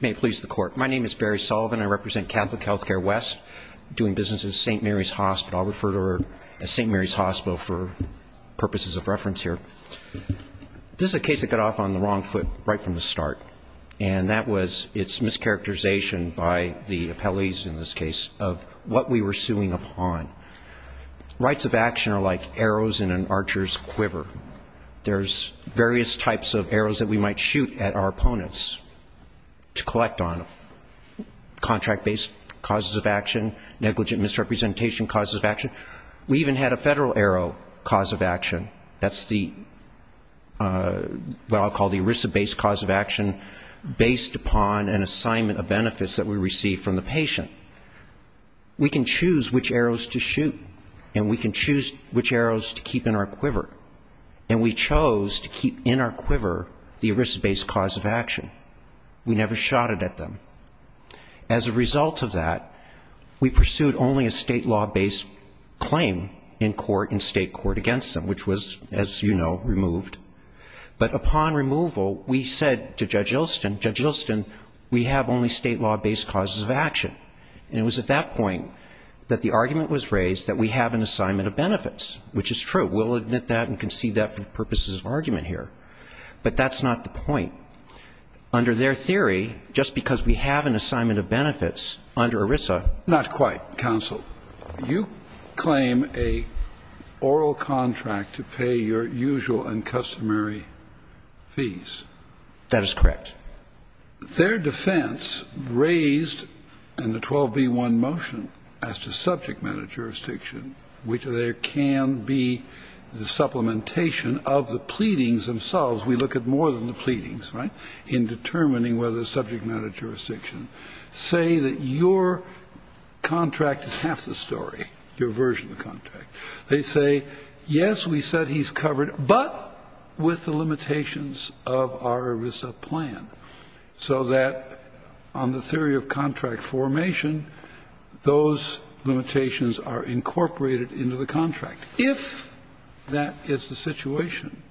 May it please the Court. My name is Barry Sullivan. I represent Catholic Healthcare West, doing business at St. Mary's Hospital. I'll refer to her as St. Mary's Hospital for purposes of reference here. This is a case that got off on the wrong foot right from the start, and that was its mischaracterization by the appellees in this case of what we were suing upon. Rights of action are like arrows in an archer's quiver. There's various types of arrows that we might shoot at our opponents to collect on them. Contract-based causes of action, negligent misrepresentation causes of action. We even had a federal arrow cause of action. That's what I'll call the ERISA-based cause of action, based upon an assignment of benefits that we received from the patient. We can choose which arrows to shoot, and we can choose which arrows to keep in our quiver. And we chose to keep in our quiver the ERISA-based cause of action. We never shot it at them. As a result of that, we pursued only a state-law-based claim in court and state court against them, which was, as you know, removed. But upon removal, we said to Judge Ilston, Judge Ilston, we have only state-law-based causes of action. And it was at that point that the argument was raised that we have an assignment of benefits, which is true. We'll admit that and concede that for purposes of argument here. But that's not the point. Under their theory, just because we have an assignment of benefits under ERISA ---- Scalia. Not quite, counsel. You claim an oral contract to pay your usual and customary fees. That is correct. Their defense raised in the 12b-1 motion as to subject matter jurisdiction, which there can be the supplementation of the pleadings themselves. We look at more than the pleadings, right, in determining whether the subject matter jurisdiction. Say that your contract is half the story, your version of the contract. They say, yes, we said he's covered, but with the limitations of our ERISA plan. So that on the theory of contract formation, those limitations are incorporated into the contract. If that is the situation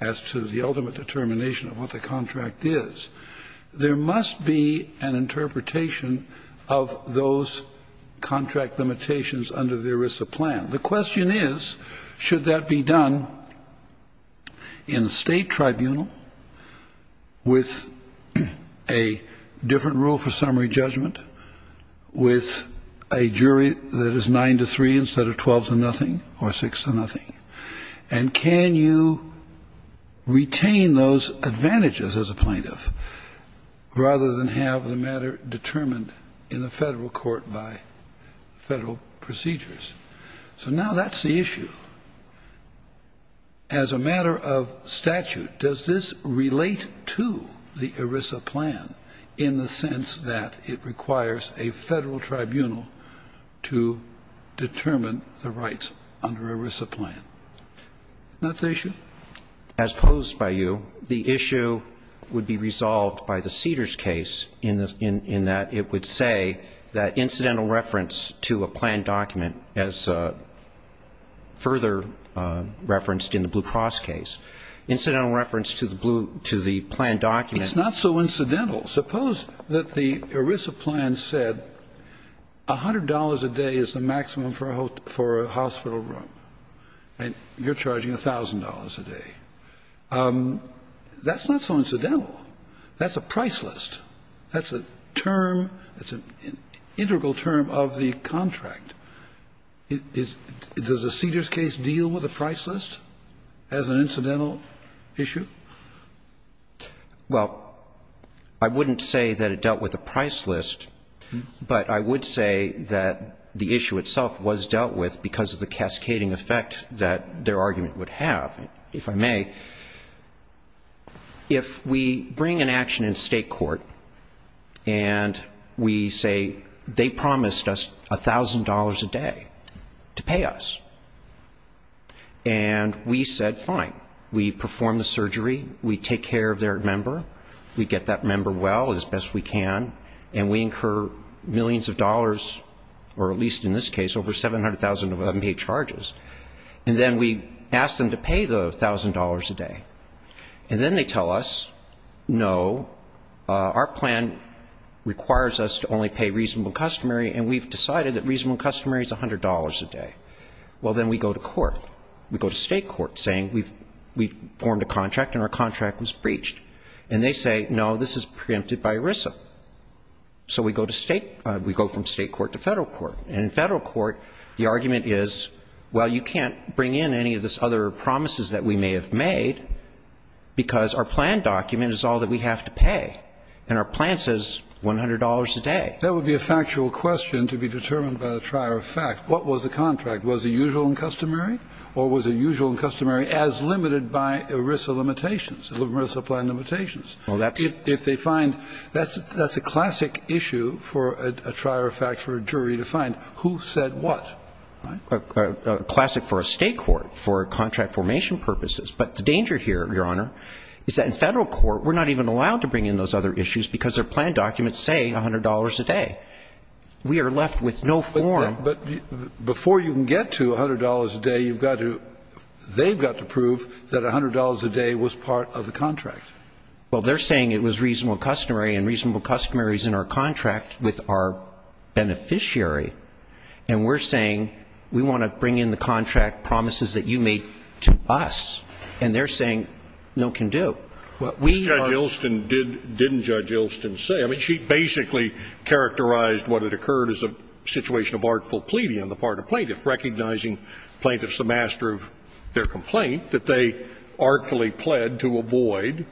as to the ultimate determination of what the contract is, there must be an interpretation of those contract limitations under the ERISA plan. The question is, should that be done in a state tribunal with a different rule for summary judgment, with a jury that is 9-3 instead of 12-0, or 6-0? And can you retain those advantages as a plaintiff, rather than have the matter determined in the federal court by federal procedures? So now that's the issue. As a matter of statute, does this relate to the ERISA plan in the sense that it requires a federal tribunal to determine the rights under ERISA plan? Isn't that the issue? As posed by you, the issue would be resolved by the Cedars case in that it would say that incidental reference to a planned document, as further referenced in the Blue Cross case, incidental reference to the planned document. It's not so incidental. Suppose that the ERISA plan said $100 a day is the maximum for a hospital room, and you're charging $1,000 a day. That's not so incidental. That's a price list. That's a term, it's an integral term of the contract. Does the Cedars case deal with a price list as an incidental issue? Well, I wouldn't say that it dealt with a price list, but I would say that the issue itself was dealt with because of the cascading effect that their argument would have. If I may, if we bring an action in state court and we say they promised us $1,000 a day to pay us, and we said fine. We perform the surgery, we take care of their member, we get that member well as best we can, and we incur millions of dollars, or at least in this case, over $700,000 of unpaid charges. And then we ask them to pay the $1,000 a day. And then they tell us, no, our plan requires us to only pay reasonable customary, and we've decided that reasonable customary is $100 a day. Well, then we go to court. We go to state court saying we've formed a contract and our contract was breached. And they say, no, this is preempted by ERISA. So we go from state court to federal court. And in federal court, the argument is, well, you can't bring in any of these other promises that we may have made, because our plan document is all that we have to pay, and our plan says $100 a day. That would be a factual question to be determined by the trier of fact. What was the contract? Was it usual and customary? Or was it usual and customary as limited by ERISA limitations, ERISA plan limitations? If they find, that's a classic issue for a trier of fact for a jury to find, who said what, right? A classic for a state court, for contract formation purposes. But the danger here, Your Honor, is that in federal court, we're not even allowed to bring in those other issues because their plan documents say $100 a day. We are left with no form. But before you can get to $100 a day, you've got to, they've got to prove that $100 a day was part of the contract. Well, they're saying it was reasonable and customary, and reasonable and customary is in our contract with our beneficiary. And we're saying, we want to bring in the contract promises that you made to us. And they're saying, no can do. What we are- Judge Ilston didn't judge Ilston say. I mean, she basically characterized what had occurred as a situation of artful pleading on the part of plaintiff. Recognizing plaintiff's the master of their complaint, that they artfully pled to avoid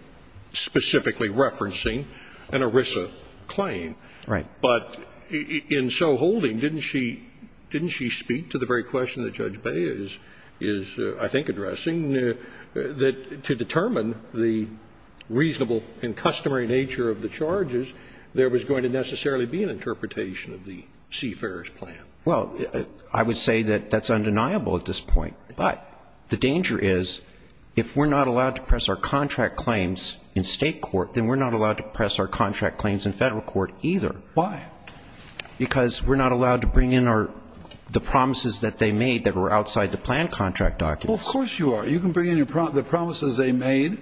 specifically referencing an ERISA claim. Right. But in so holding, didn't she, didn't she speak to the very question that Judge Bay is, is I think addressing? That to determine the reasonable and customary nature of the charges, there was going to necessarily be an interpretation of the Seafarer's plan. Well, I would say that that's undeniable at this point. But the danger is, if we're not allowed to press our contract claims in state court, then we're not allowed to press our contract claims in federal court either. Why? Because we're not allowed to bring in our, the promises that they made that were outside the plan contract documents. Well, of course you are. You can bring in the promises they made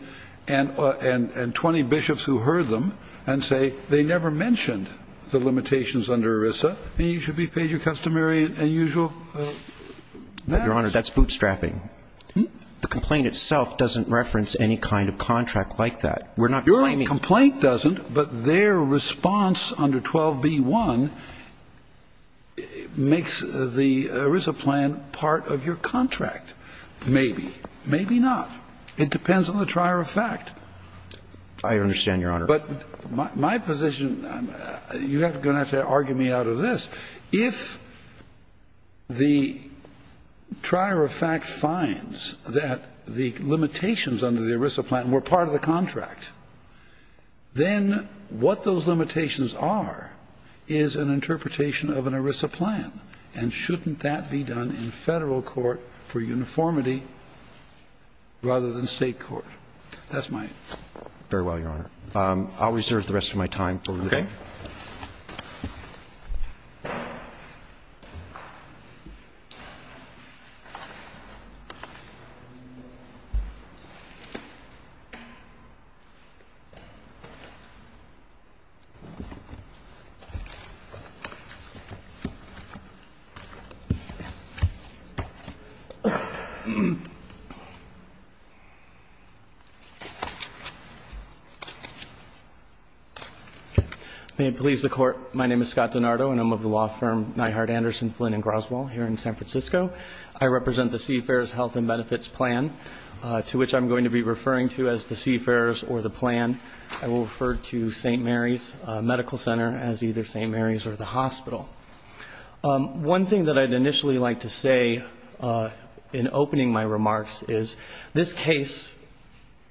and 20 bishops who heard them and say they never mentioned the limitations under ERISA and you should be paid your customary and usual. Your Honor, that's bootstrapping. The complaint itself doesn't reference any kind of contract like that. Your complaint doesn't, but their response under 12b1 makes the ERISA plan part of your contract. Maybe, maybe not. It depends on the trier of fact. I understand, Your Honor. But my position, you're going to have to argue me out of this. If the trier of fact finds that the limitations under the ERISA plan were part of the contract, then what those limitations are is an interpretation of an ERISA plan. And shouldn't that be done in federal court for uniformity rather than state court? That's my. Very well, Your Honor. I'll reserve the rest of my time for review. Okay. May it please the Court, my name is Scott DiNardo and I'm of the law firm Neihard Anderson, Flynn & Groswall here in San Francisco. I represent the CFARES Health and Benefits Plan, to which I'm going to be referring to as the CFARES or the plan. I will refer to St. Mary's Medical Center as either St. Mary's or the hospital. One thing that I'd initially like to say in opening my remarks is this case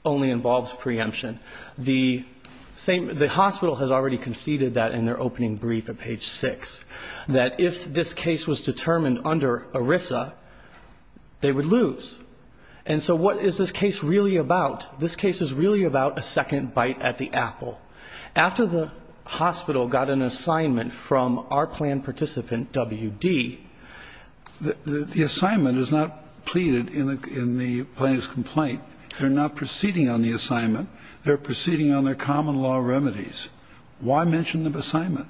only involves preemption. The same the hospital has already conceded that in their opening brief at page 6, that if this case was determined under ERISA, they would lose. And so what is this case really about? This case is really about a second bite at the apple. After the hospital got an assignment from our plan participant, W.D., the assignment is not pleaded in the plaintiff's complaint. They're not proceeding on the assignment. They're proceeding on their common law remedies. Why mention the assignment?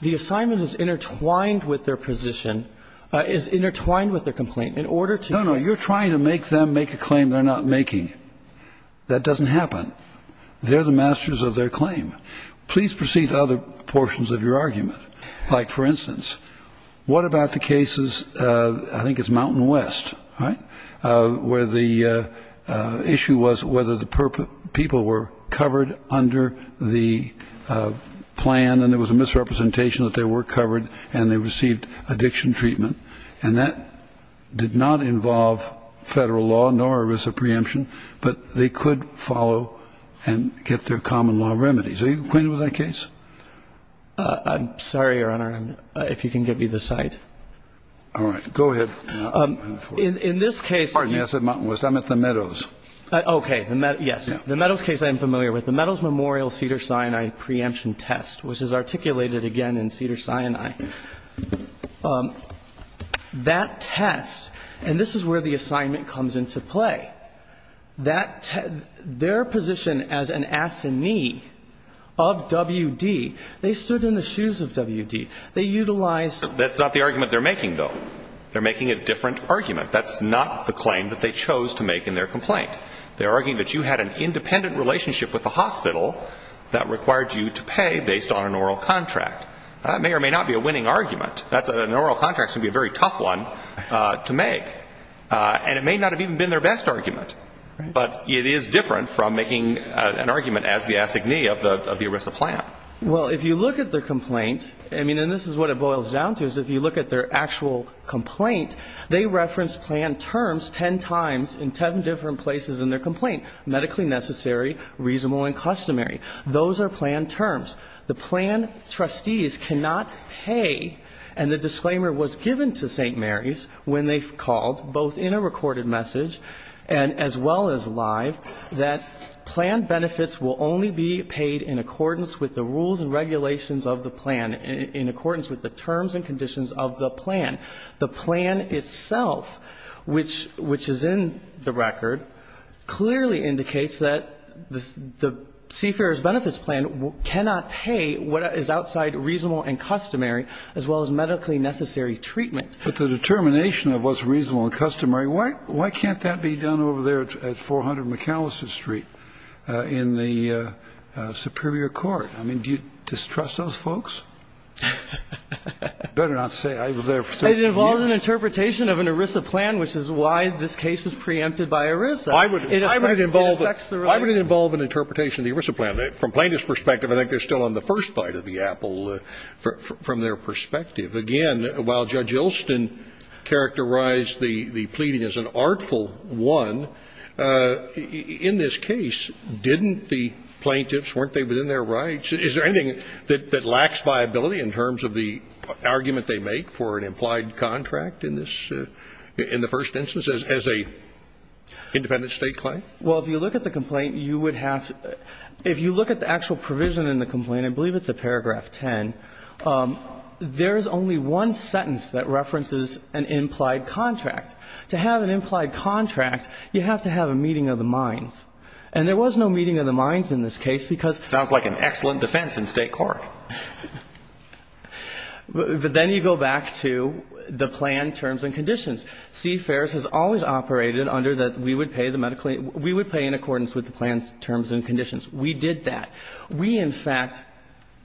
The assignment is intertwined with their position, is intertwined with their complaint. In order to... No, no. You're trying to make them make a claim they're not making. That doesn't happen. They're the masters of their claim. Please proceed to other portions of your argument. Like, for instance, what about the cases, I think it's Mountain West, right? Where the issue was whether the people were covered under the plan and there was a misrepresentation that they were covered and they received addiction treatment. And that did not involve Federal law nor ERISA preemption, but they could follow and get their common law remedies. Are you acquainted with that case? I'm sorry, Your Honor, if you can give me the site. All right. Go ahead. In this case... Pardon me. I said Mountain West. I meant the Meadows. Okay. Yes. The Meadows case I'm familiar with. The Meadows Memorial Cedars-Sinai preemption test, which is articulated again in Cedars-Sinai. That test, and this is where the assignment comes into play, that their position as an assignee of WD, they stood in the shoes of WD. They utilized... That's not the argument they're making, though. They're making a different argument. That's not the claim that they chose to make in their complaint. They're arguing that you had an independent relationship with the hospital that required you to pay based on an oral contract. That may or may not be a winning argument. An oral contract is going to be a very tough one to make. And it may not have even been their best argument, but it is different from making an argument as the assignee of the ERISA plan. Well, if you look at their complaint, and this is what it boils down to, is if you look at their actual complaint, they reference plan terms ten times in ten different places in their complaint. Medically necessary, reasonable, and customary. Those are plan terms. The plan trustees cannot pay, and the disclaimer was given to St. Mary's when they called, both in a recorded message and as well as live, that plan benefits will only be paid in accordance with the rules and regulations of the plan, in accordance with the terms and conditions of the plan. The plan itself, which is in the record, clearly indicates that the Seafarer's Benefits Plan cannot pay what is outside reasonable and customary, as well as medically necessary treatment. But the determination of what's reasonable and customary, why can't that be done over there at 400 McAllister Street in the Superior Court? I mean, do you distrust those folks? I'd better not say, I was there for so many years. It involves an interpretation of an ERISA plan, which is why this case is preempted by ERISA. It affects the rights. Why would it involve an interpretation of the ERISA plan? From Plaintiff's perspective, I think they're still on the first bite of the apple from their perspective. Again, while Judge Ilston characterized the pleading as an artful one, in this case, didn't the plaintiffs, weren't they within their rights? Is there anything that lacks viability in terms of the argument they make for an implied contract in this, in the first instance as a independent State claim? Well, if you look at the complaint, you would have to – if you look at the actual provision in the complaint, I believe it's a paragraph 10, there's only one sentence that references an implied contract. To have an implied contract, you have to have a meeting of the minds. And there was no meeting of the minds in this case because- Sounds like an excellent defense in State court. But then you go back to the plan, terms, and conditions. CFERS has always operated under that we would pay the medical, we would pay in accordance with the plan's terms and conditions. We did that. We, in fact,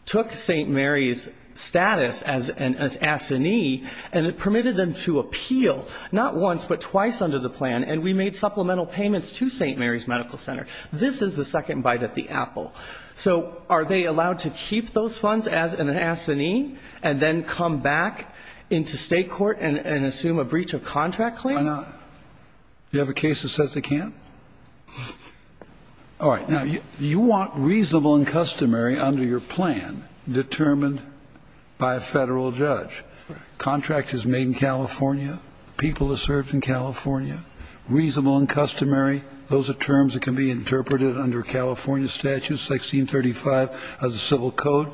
took St. Mary's status as an assignee and it permitted them to appeal, not once, but twice under the plan. And we made supplemental payments to St. Mary's Medical Center. This is the second bite at the apple. So are they allowed to keep those funds as an assignee and then come back into State court and assume a breach of contract claim? Why not? Do you have a case that says they can't? All right. Now, you want reasonable and customary under your plan determined by a Federal judge. Contract is made in California. People are served in California. Reasonable and customary, those are terms that can be interpreted under California statutes, 1635 of the Civil Code.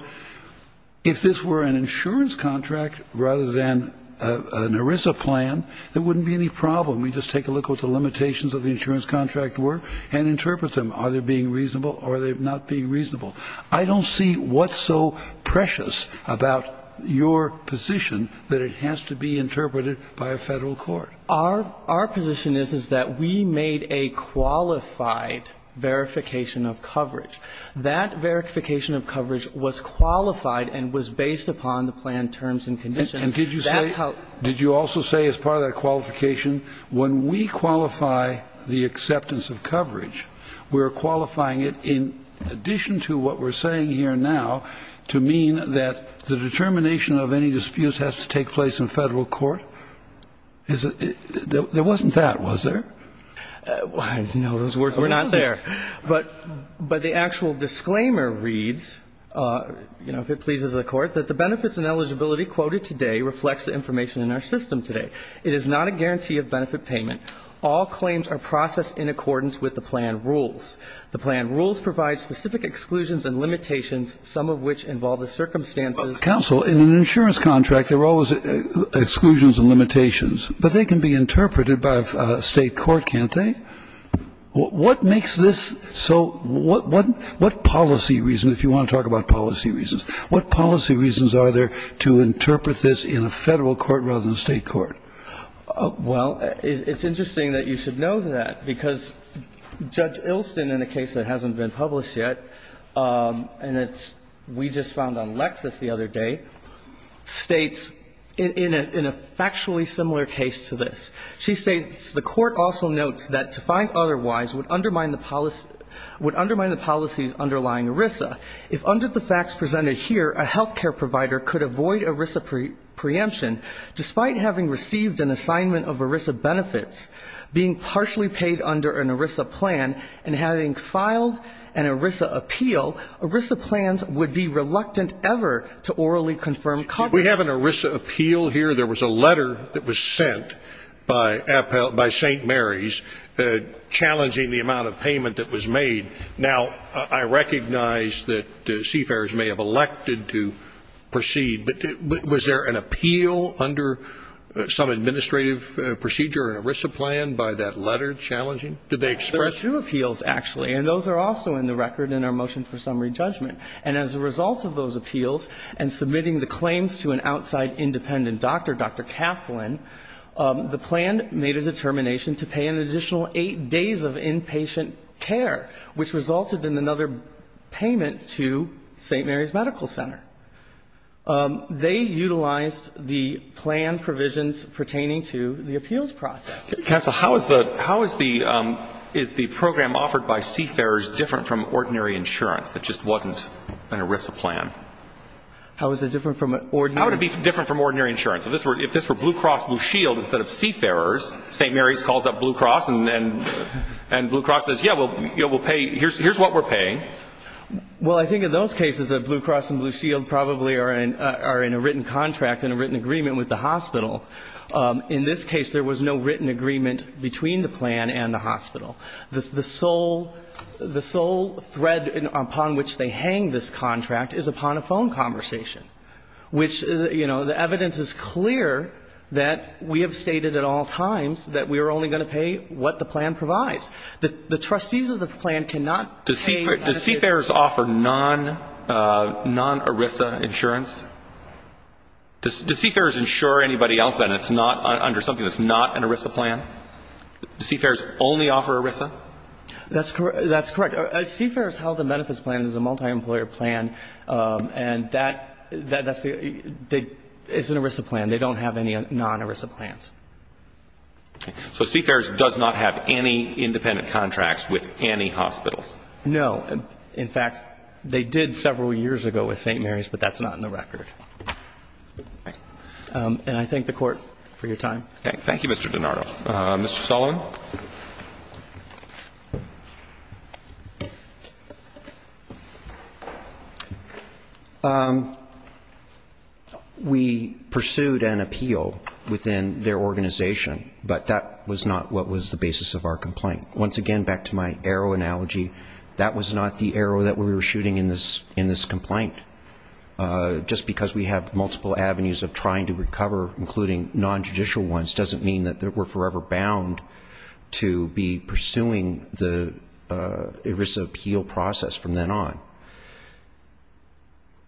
If this were an insurance contract rather than an ERISA plan, there wouldn't be any problem. We'd just take a look at what the limitations of the insurance contract were and interpret them, are they being reasonable or are they not being reasonable. I don't see what's so precious about your position that it has to be interpreted by a Federal court. Our position is, is that we made a qualified verification of coverage. That verification of coverage was qualified and was based upon the plan terms and conditions. That's how we made it. When we qualify the acceptance of coverage, we're qualifying it in addition to what we're saying here now to mean that the determination of any disputes has to take place in Federal court? There wasn't that, was there? No, those were not there. But the actual disclaimer reads, you know, if it pleases the Court, that the benefits and eligibility quoted today reflects the information in our system today. It is not a guarantee of benefit payment. All claims are processed in accordance with the plan rules. The plan rules provide specific exclusions and limitations, some of which involve the circumstances. Counsel, in an insurance contract, there are always exclusions and limitations, but they can be interpreted by a State court, can't they? What makes this so what policy reason, if you want to talk about policy reasons, what policy reasons are there to interpret this in a Federal court rather than a State court? Well, it's interesting that you should know that, because Judge Ilston, in a case that hasn't been published yet, and that we just found on Lexis the other day, states in a factually similar case to this, she states, The Court also notes that to find otherwise would undermine the policy's underlying ERISA. If, under the facts presented here, a health care provider could avoid ERISA preemption despite having received an assignment of ERISA benefits, being partially paid under an ERISA plan, and having filed an ERISA appeal, ERISA plans would be reluctant ever to orally confirm coverage. We have an ERISA appeal here. There was a letter that was sent by St. Mary's challenging the amount of payment that was made. Now, I recognize that CFAIRS may have elected to proceed, but was there an appeal under some administrative procedure, an ERISA plan, by that letter challenging? Did they express? There are two appeals, actually, and those are also in the record in our motion for summary judgment. And as a result of those appeals, and submitting the claims to an outside independent doctor, Dr. Kaplan, the plan made a determination to pay an additional 8 days of inpatient care, which resulted in another payment to St. Mary's Medical Center. They utilized the plan provisions pertaining to the appeals process. Counsel, how is the program offered by CFAIRS different from ordinary insurance that just wasn't an ERISA plan? How is it different from ordinary? How would it be different from ordinary insurance? If this were Blue Cross Blue Shield instead of CFAIRS, St. Mary's calls up Blue Cross and Blue Cross says, yeah, we'll pay, here's what we're paying. Well, I think in those cases that Blue Cross and Blue Shield probably are in a written contract, in a written agreement with the hospital. In this case, there was no written agreement between the plan and the hospital. The sole thread upon which they hang this contract is upon a phone conversation, which, you know, the evidence is clear that we have stated at all times that we are only going to pay what the plan provides. The trustees of the plan cannot pay an additional 8 days. Does CFAIRS offer non-ERISA insurance? Does CFAIRS insure anybody else that it's not under something that's not an ERISA plan? Does CFAIRS only offer ERISA? That's correct. CFAIRS held the benefits plan as a multi-employer plan, and that's the, it's an ERISA plan. They don't have any non-ERISA plans. So CFAIRS does not have any independent contracts with any hospitals? No. In fact, they did several years ago with St. Mary's, but that's not in the record. And I thank the Court for your time. Thank you, Mr. DiNardo. Mr. Sullivan? We pursued an appeal within their organization, but that was not what was the basis of our complaint. Once again, back to my arrow analogy, that was not the arrow that we were shooting in this complaint. Just because we have multiple avenues of trying to recover, including non-judicial ones, doesn't mean that we're forever bound to be pursuing the ERISA appeal process from then on.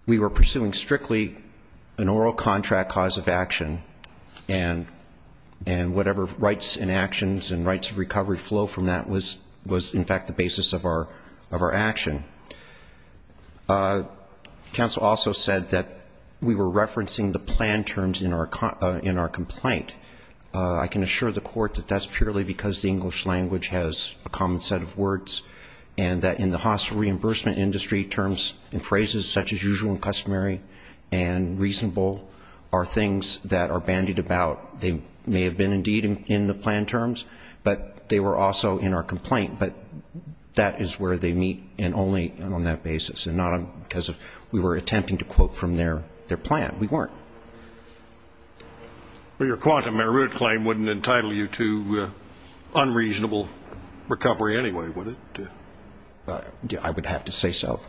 We were pursuing strictly an oral contract cause of action, and whatever rights and actions and rights of recovery flow from that was in fact the basis of our action. Council also said that we were referencing the plan terms in our complaint. I can assure the Court that that's purely because the English language has a common set of words, and that in the hospital reimbursement industry, terms and phrases such as usual and customary and reasonable are things that are bandied about. They may have been indeed in the plan terms, but they were also in our complaint. But that is where they meet, and only on that basis, and not because we were attempting to quote from their plan. We weren't. Well, your quantum merit claim wouldn't entitle you to unreasonable recovery anyway, would it? I would have to say so.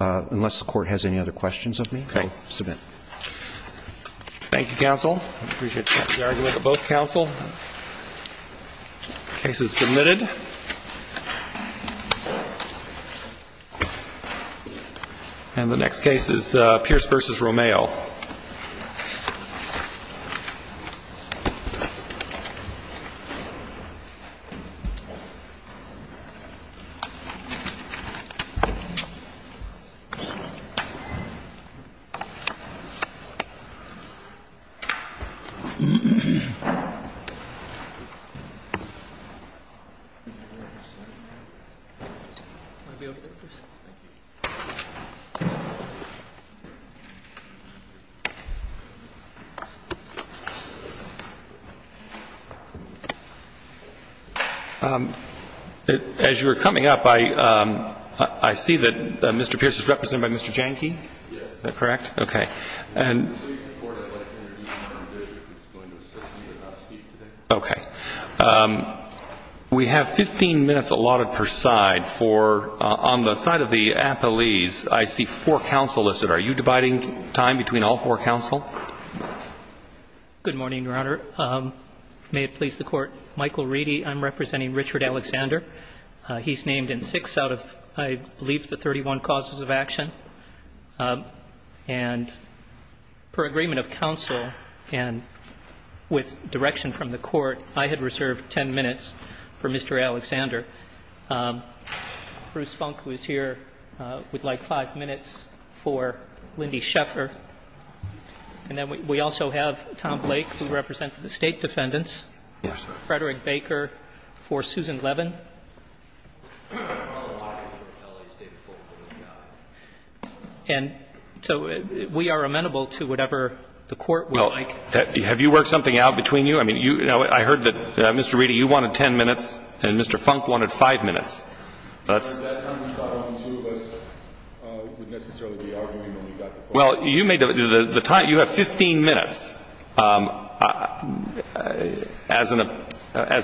Unless the Court has any other questions of me, I'll submit. Thank you, Council. I appreciate the argument of both Council. The case is submitted. And the next case is Pierce v. Romeo. As you were coming up, I see that Mr. Pierce is represented by Mr. Jahnke, is that correct? Yes. Okay. Okay. We have 15 minutes allotted per side for, on the side of the appellees, I see four counsel listed. Are you dividing time between all four counsel? Good morning, Your Honor. May it please the Court. Michael Reedy. I'm representing Richard Alexander. He's named in six out of, I believe, the 31 causes of action. And per agreement of counsel, and with direction from the Court, I had reserved 10 minutes for Mr. Alexander. Bruce Funk, who is here, would like 5 minutes for Lindy Sheffer. And then we also have Tom Blake, who represents the State defendants. Yes, sir. Mr. Frederick Baker for Susan Levin. And so we are amenable to whatever the Court would like. Well, have you worked something out between you? I mean, you know, I heard that, Mr. Reedy, you wanted 10 minutes and Mr. Funk wanted 5 minutes. Well, you made the time, you have 15 minutes. As an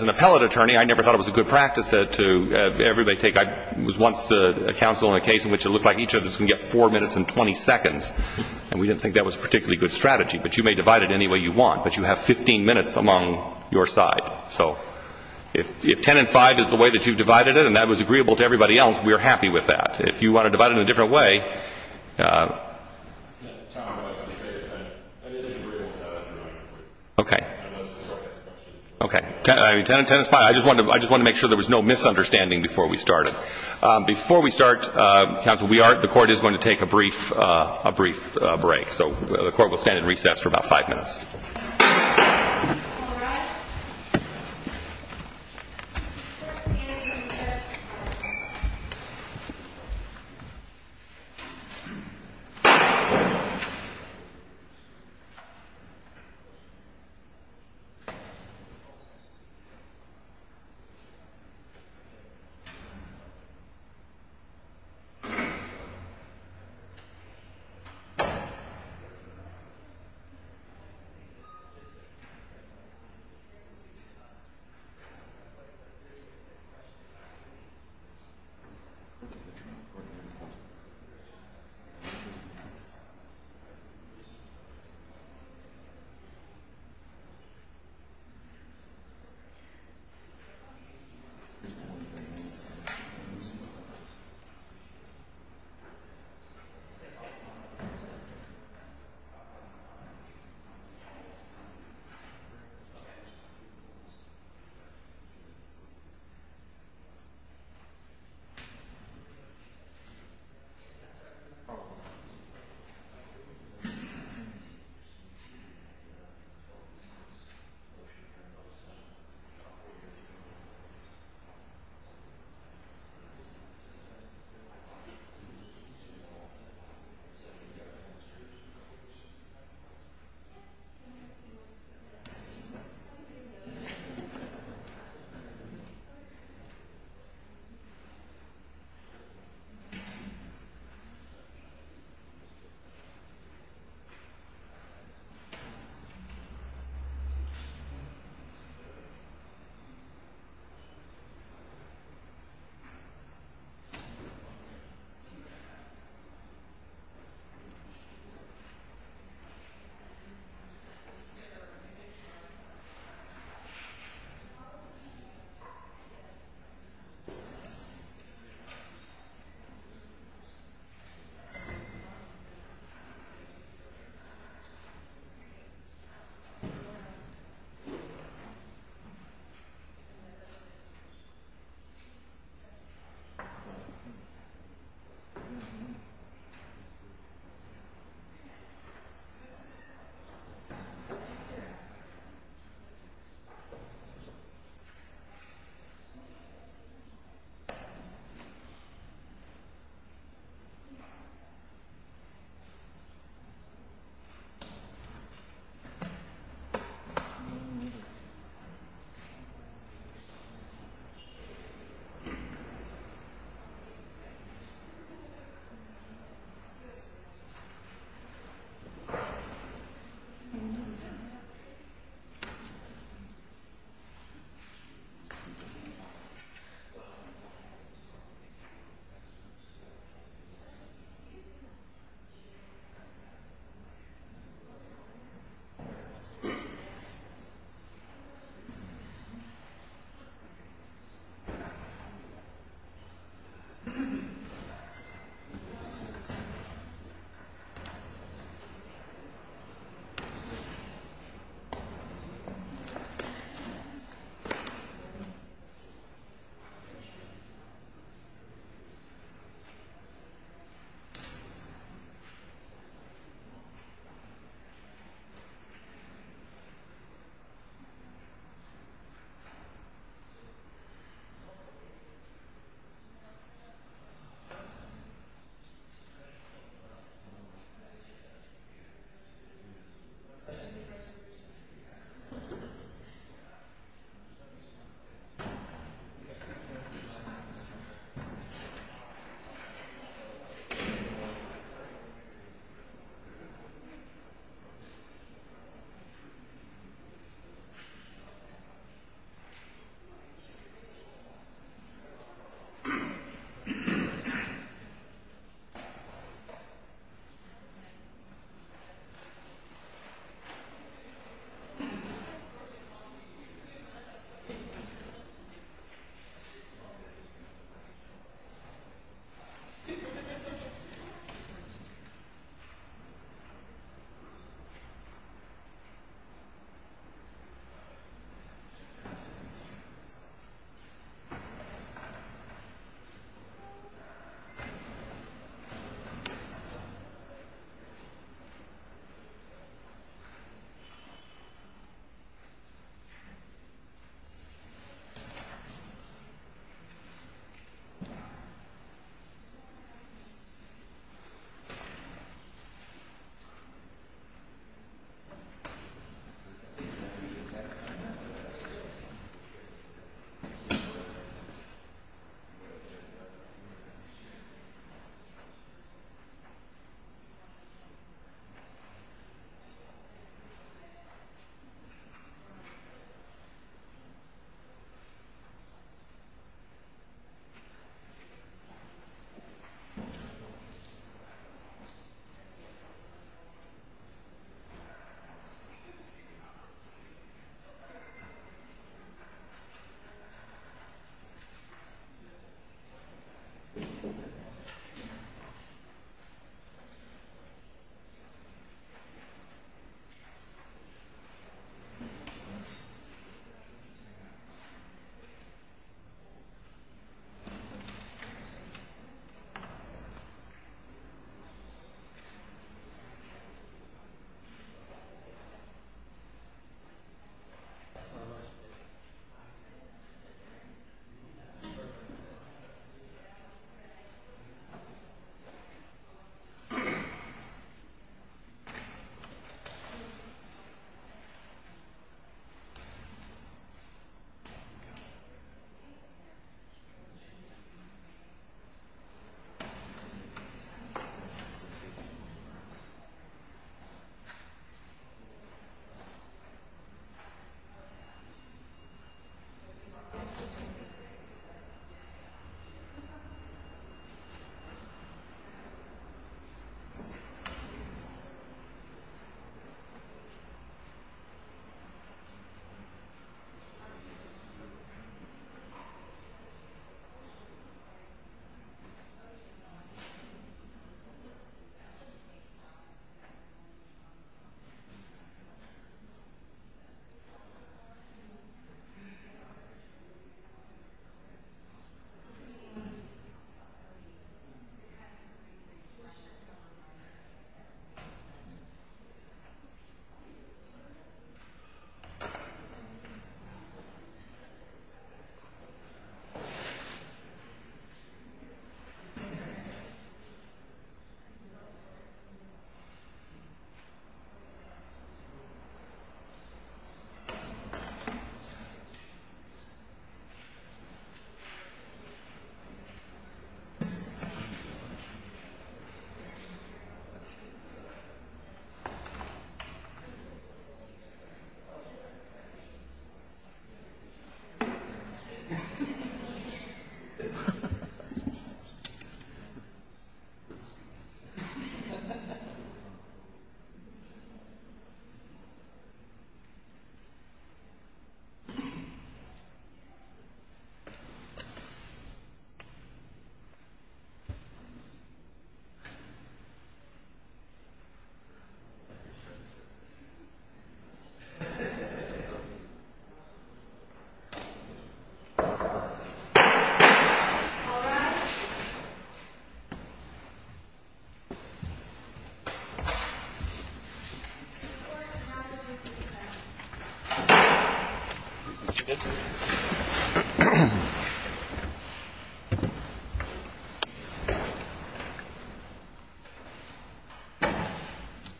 appellate attorney, I never thought it was a good practice to everybody take — I was once a counsel in a case in which it looked like each of us can get 4 minutes and 20 seconds, and we didn't think that was a particularly good strategy. But you may divide it any way you want, but you have 15 minutes among your side. So if 10 and 5 is the way that you divided it and that was agreeable to everybody else, we are happy with that. If you want to divide it in a different way — I just wanted to make sure there was no misunderstanding before we started. Before we start, counsel, the Court is going to take a brief break. So the Court will stand in recess for about 5 minutes. All rise.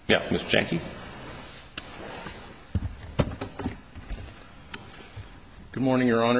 This Court is now dismissed in recess. Yes, Mr. Janky? Good morning, Your Honor.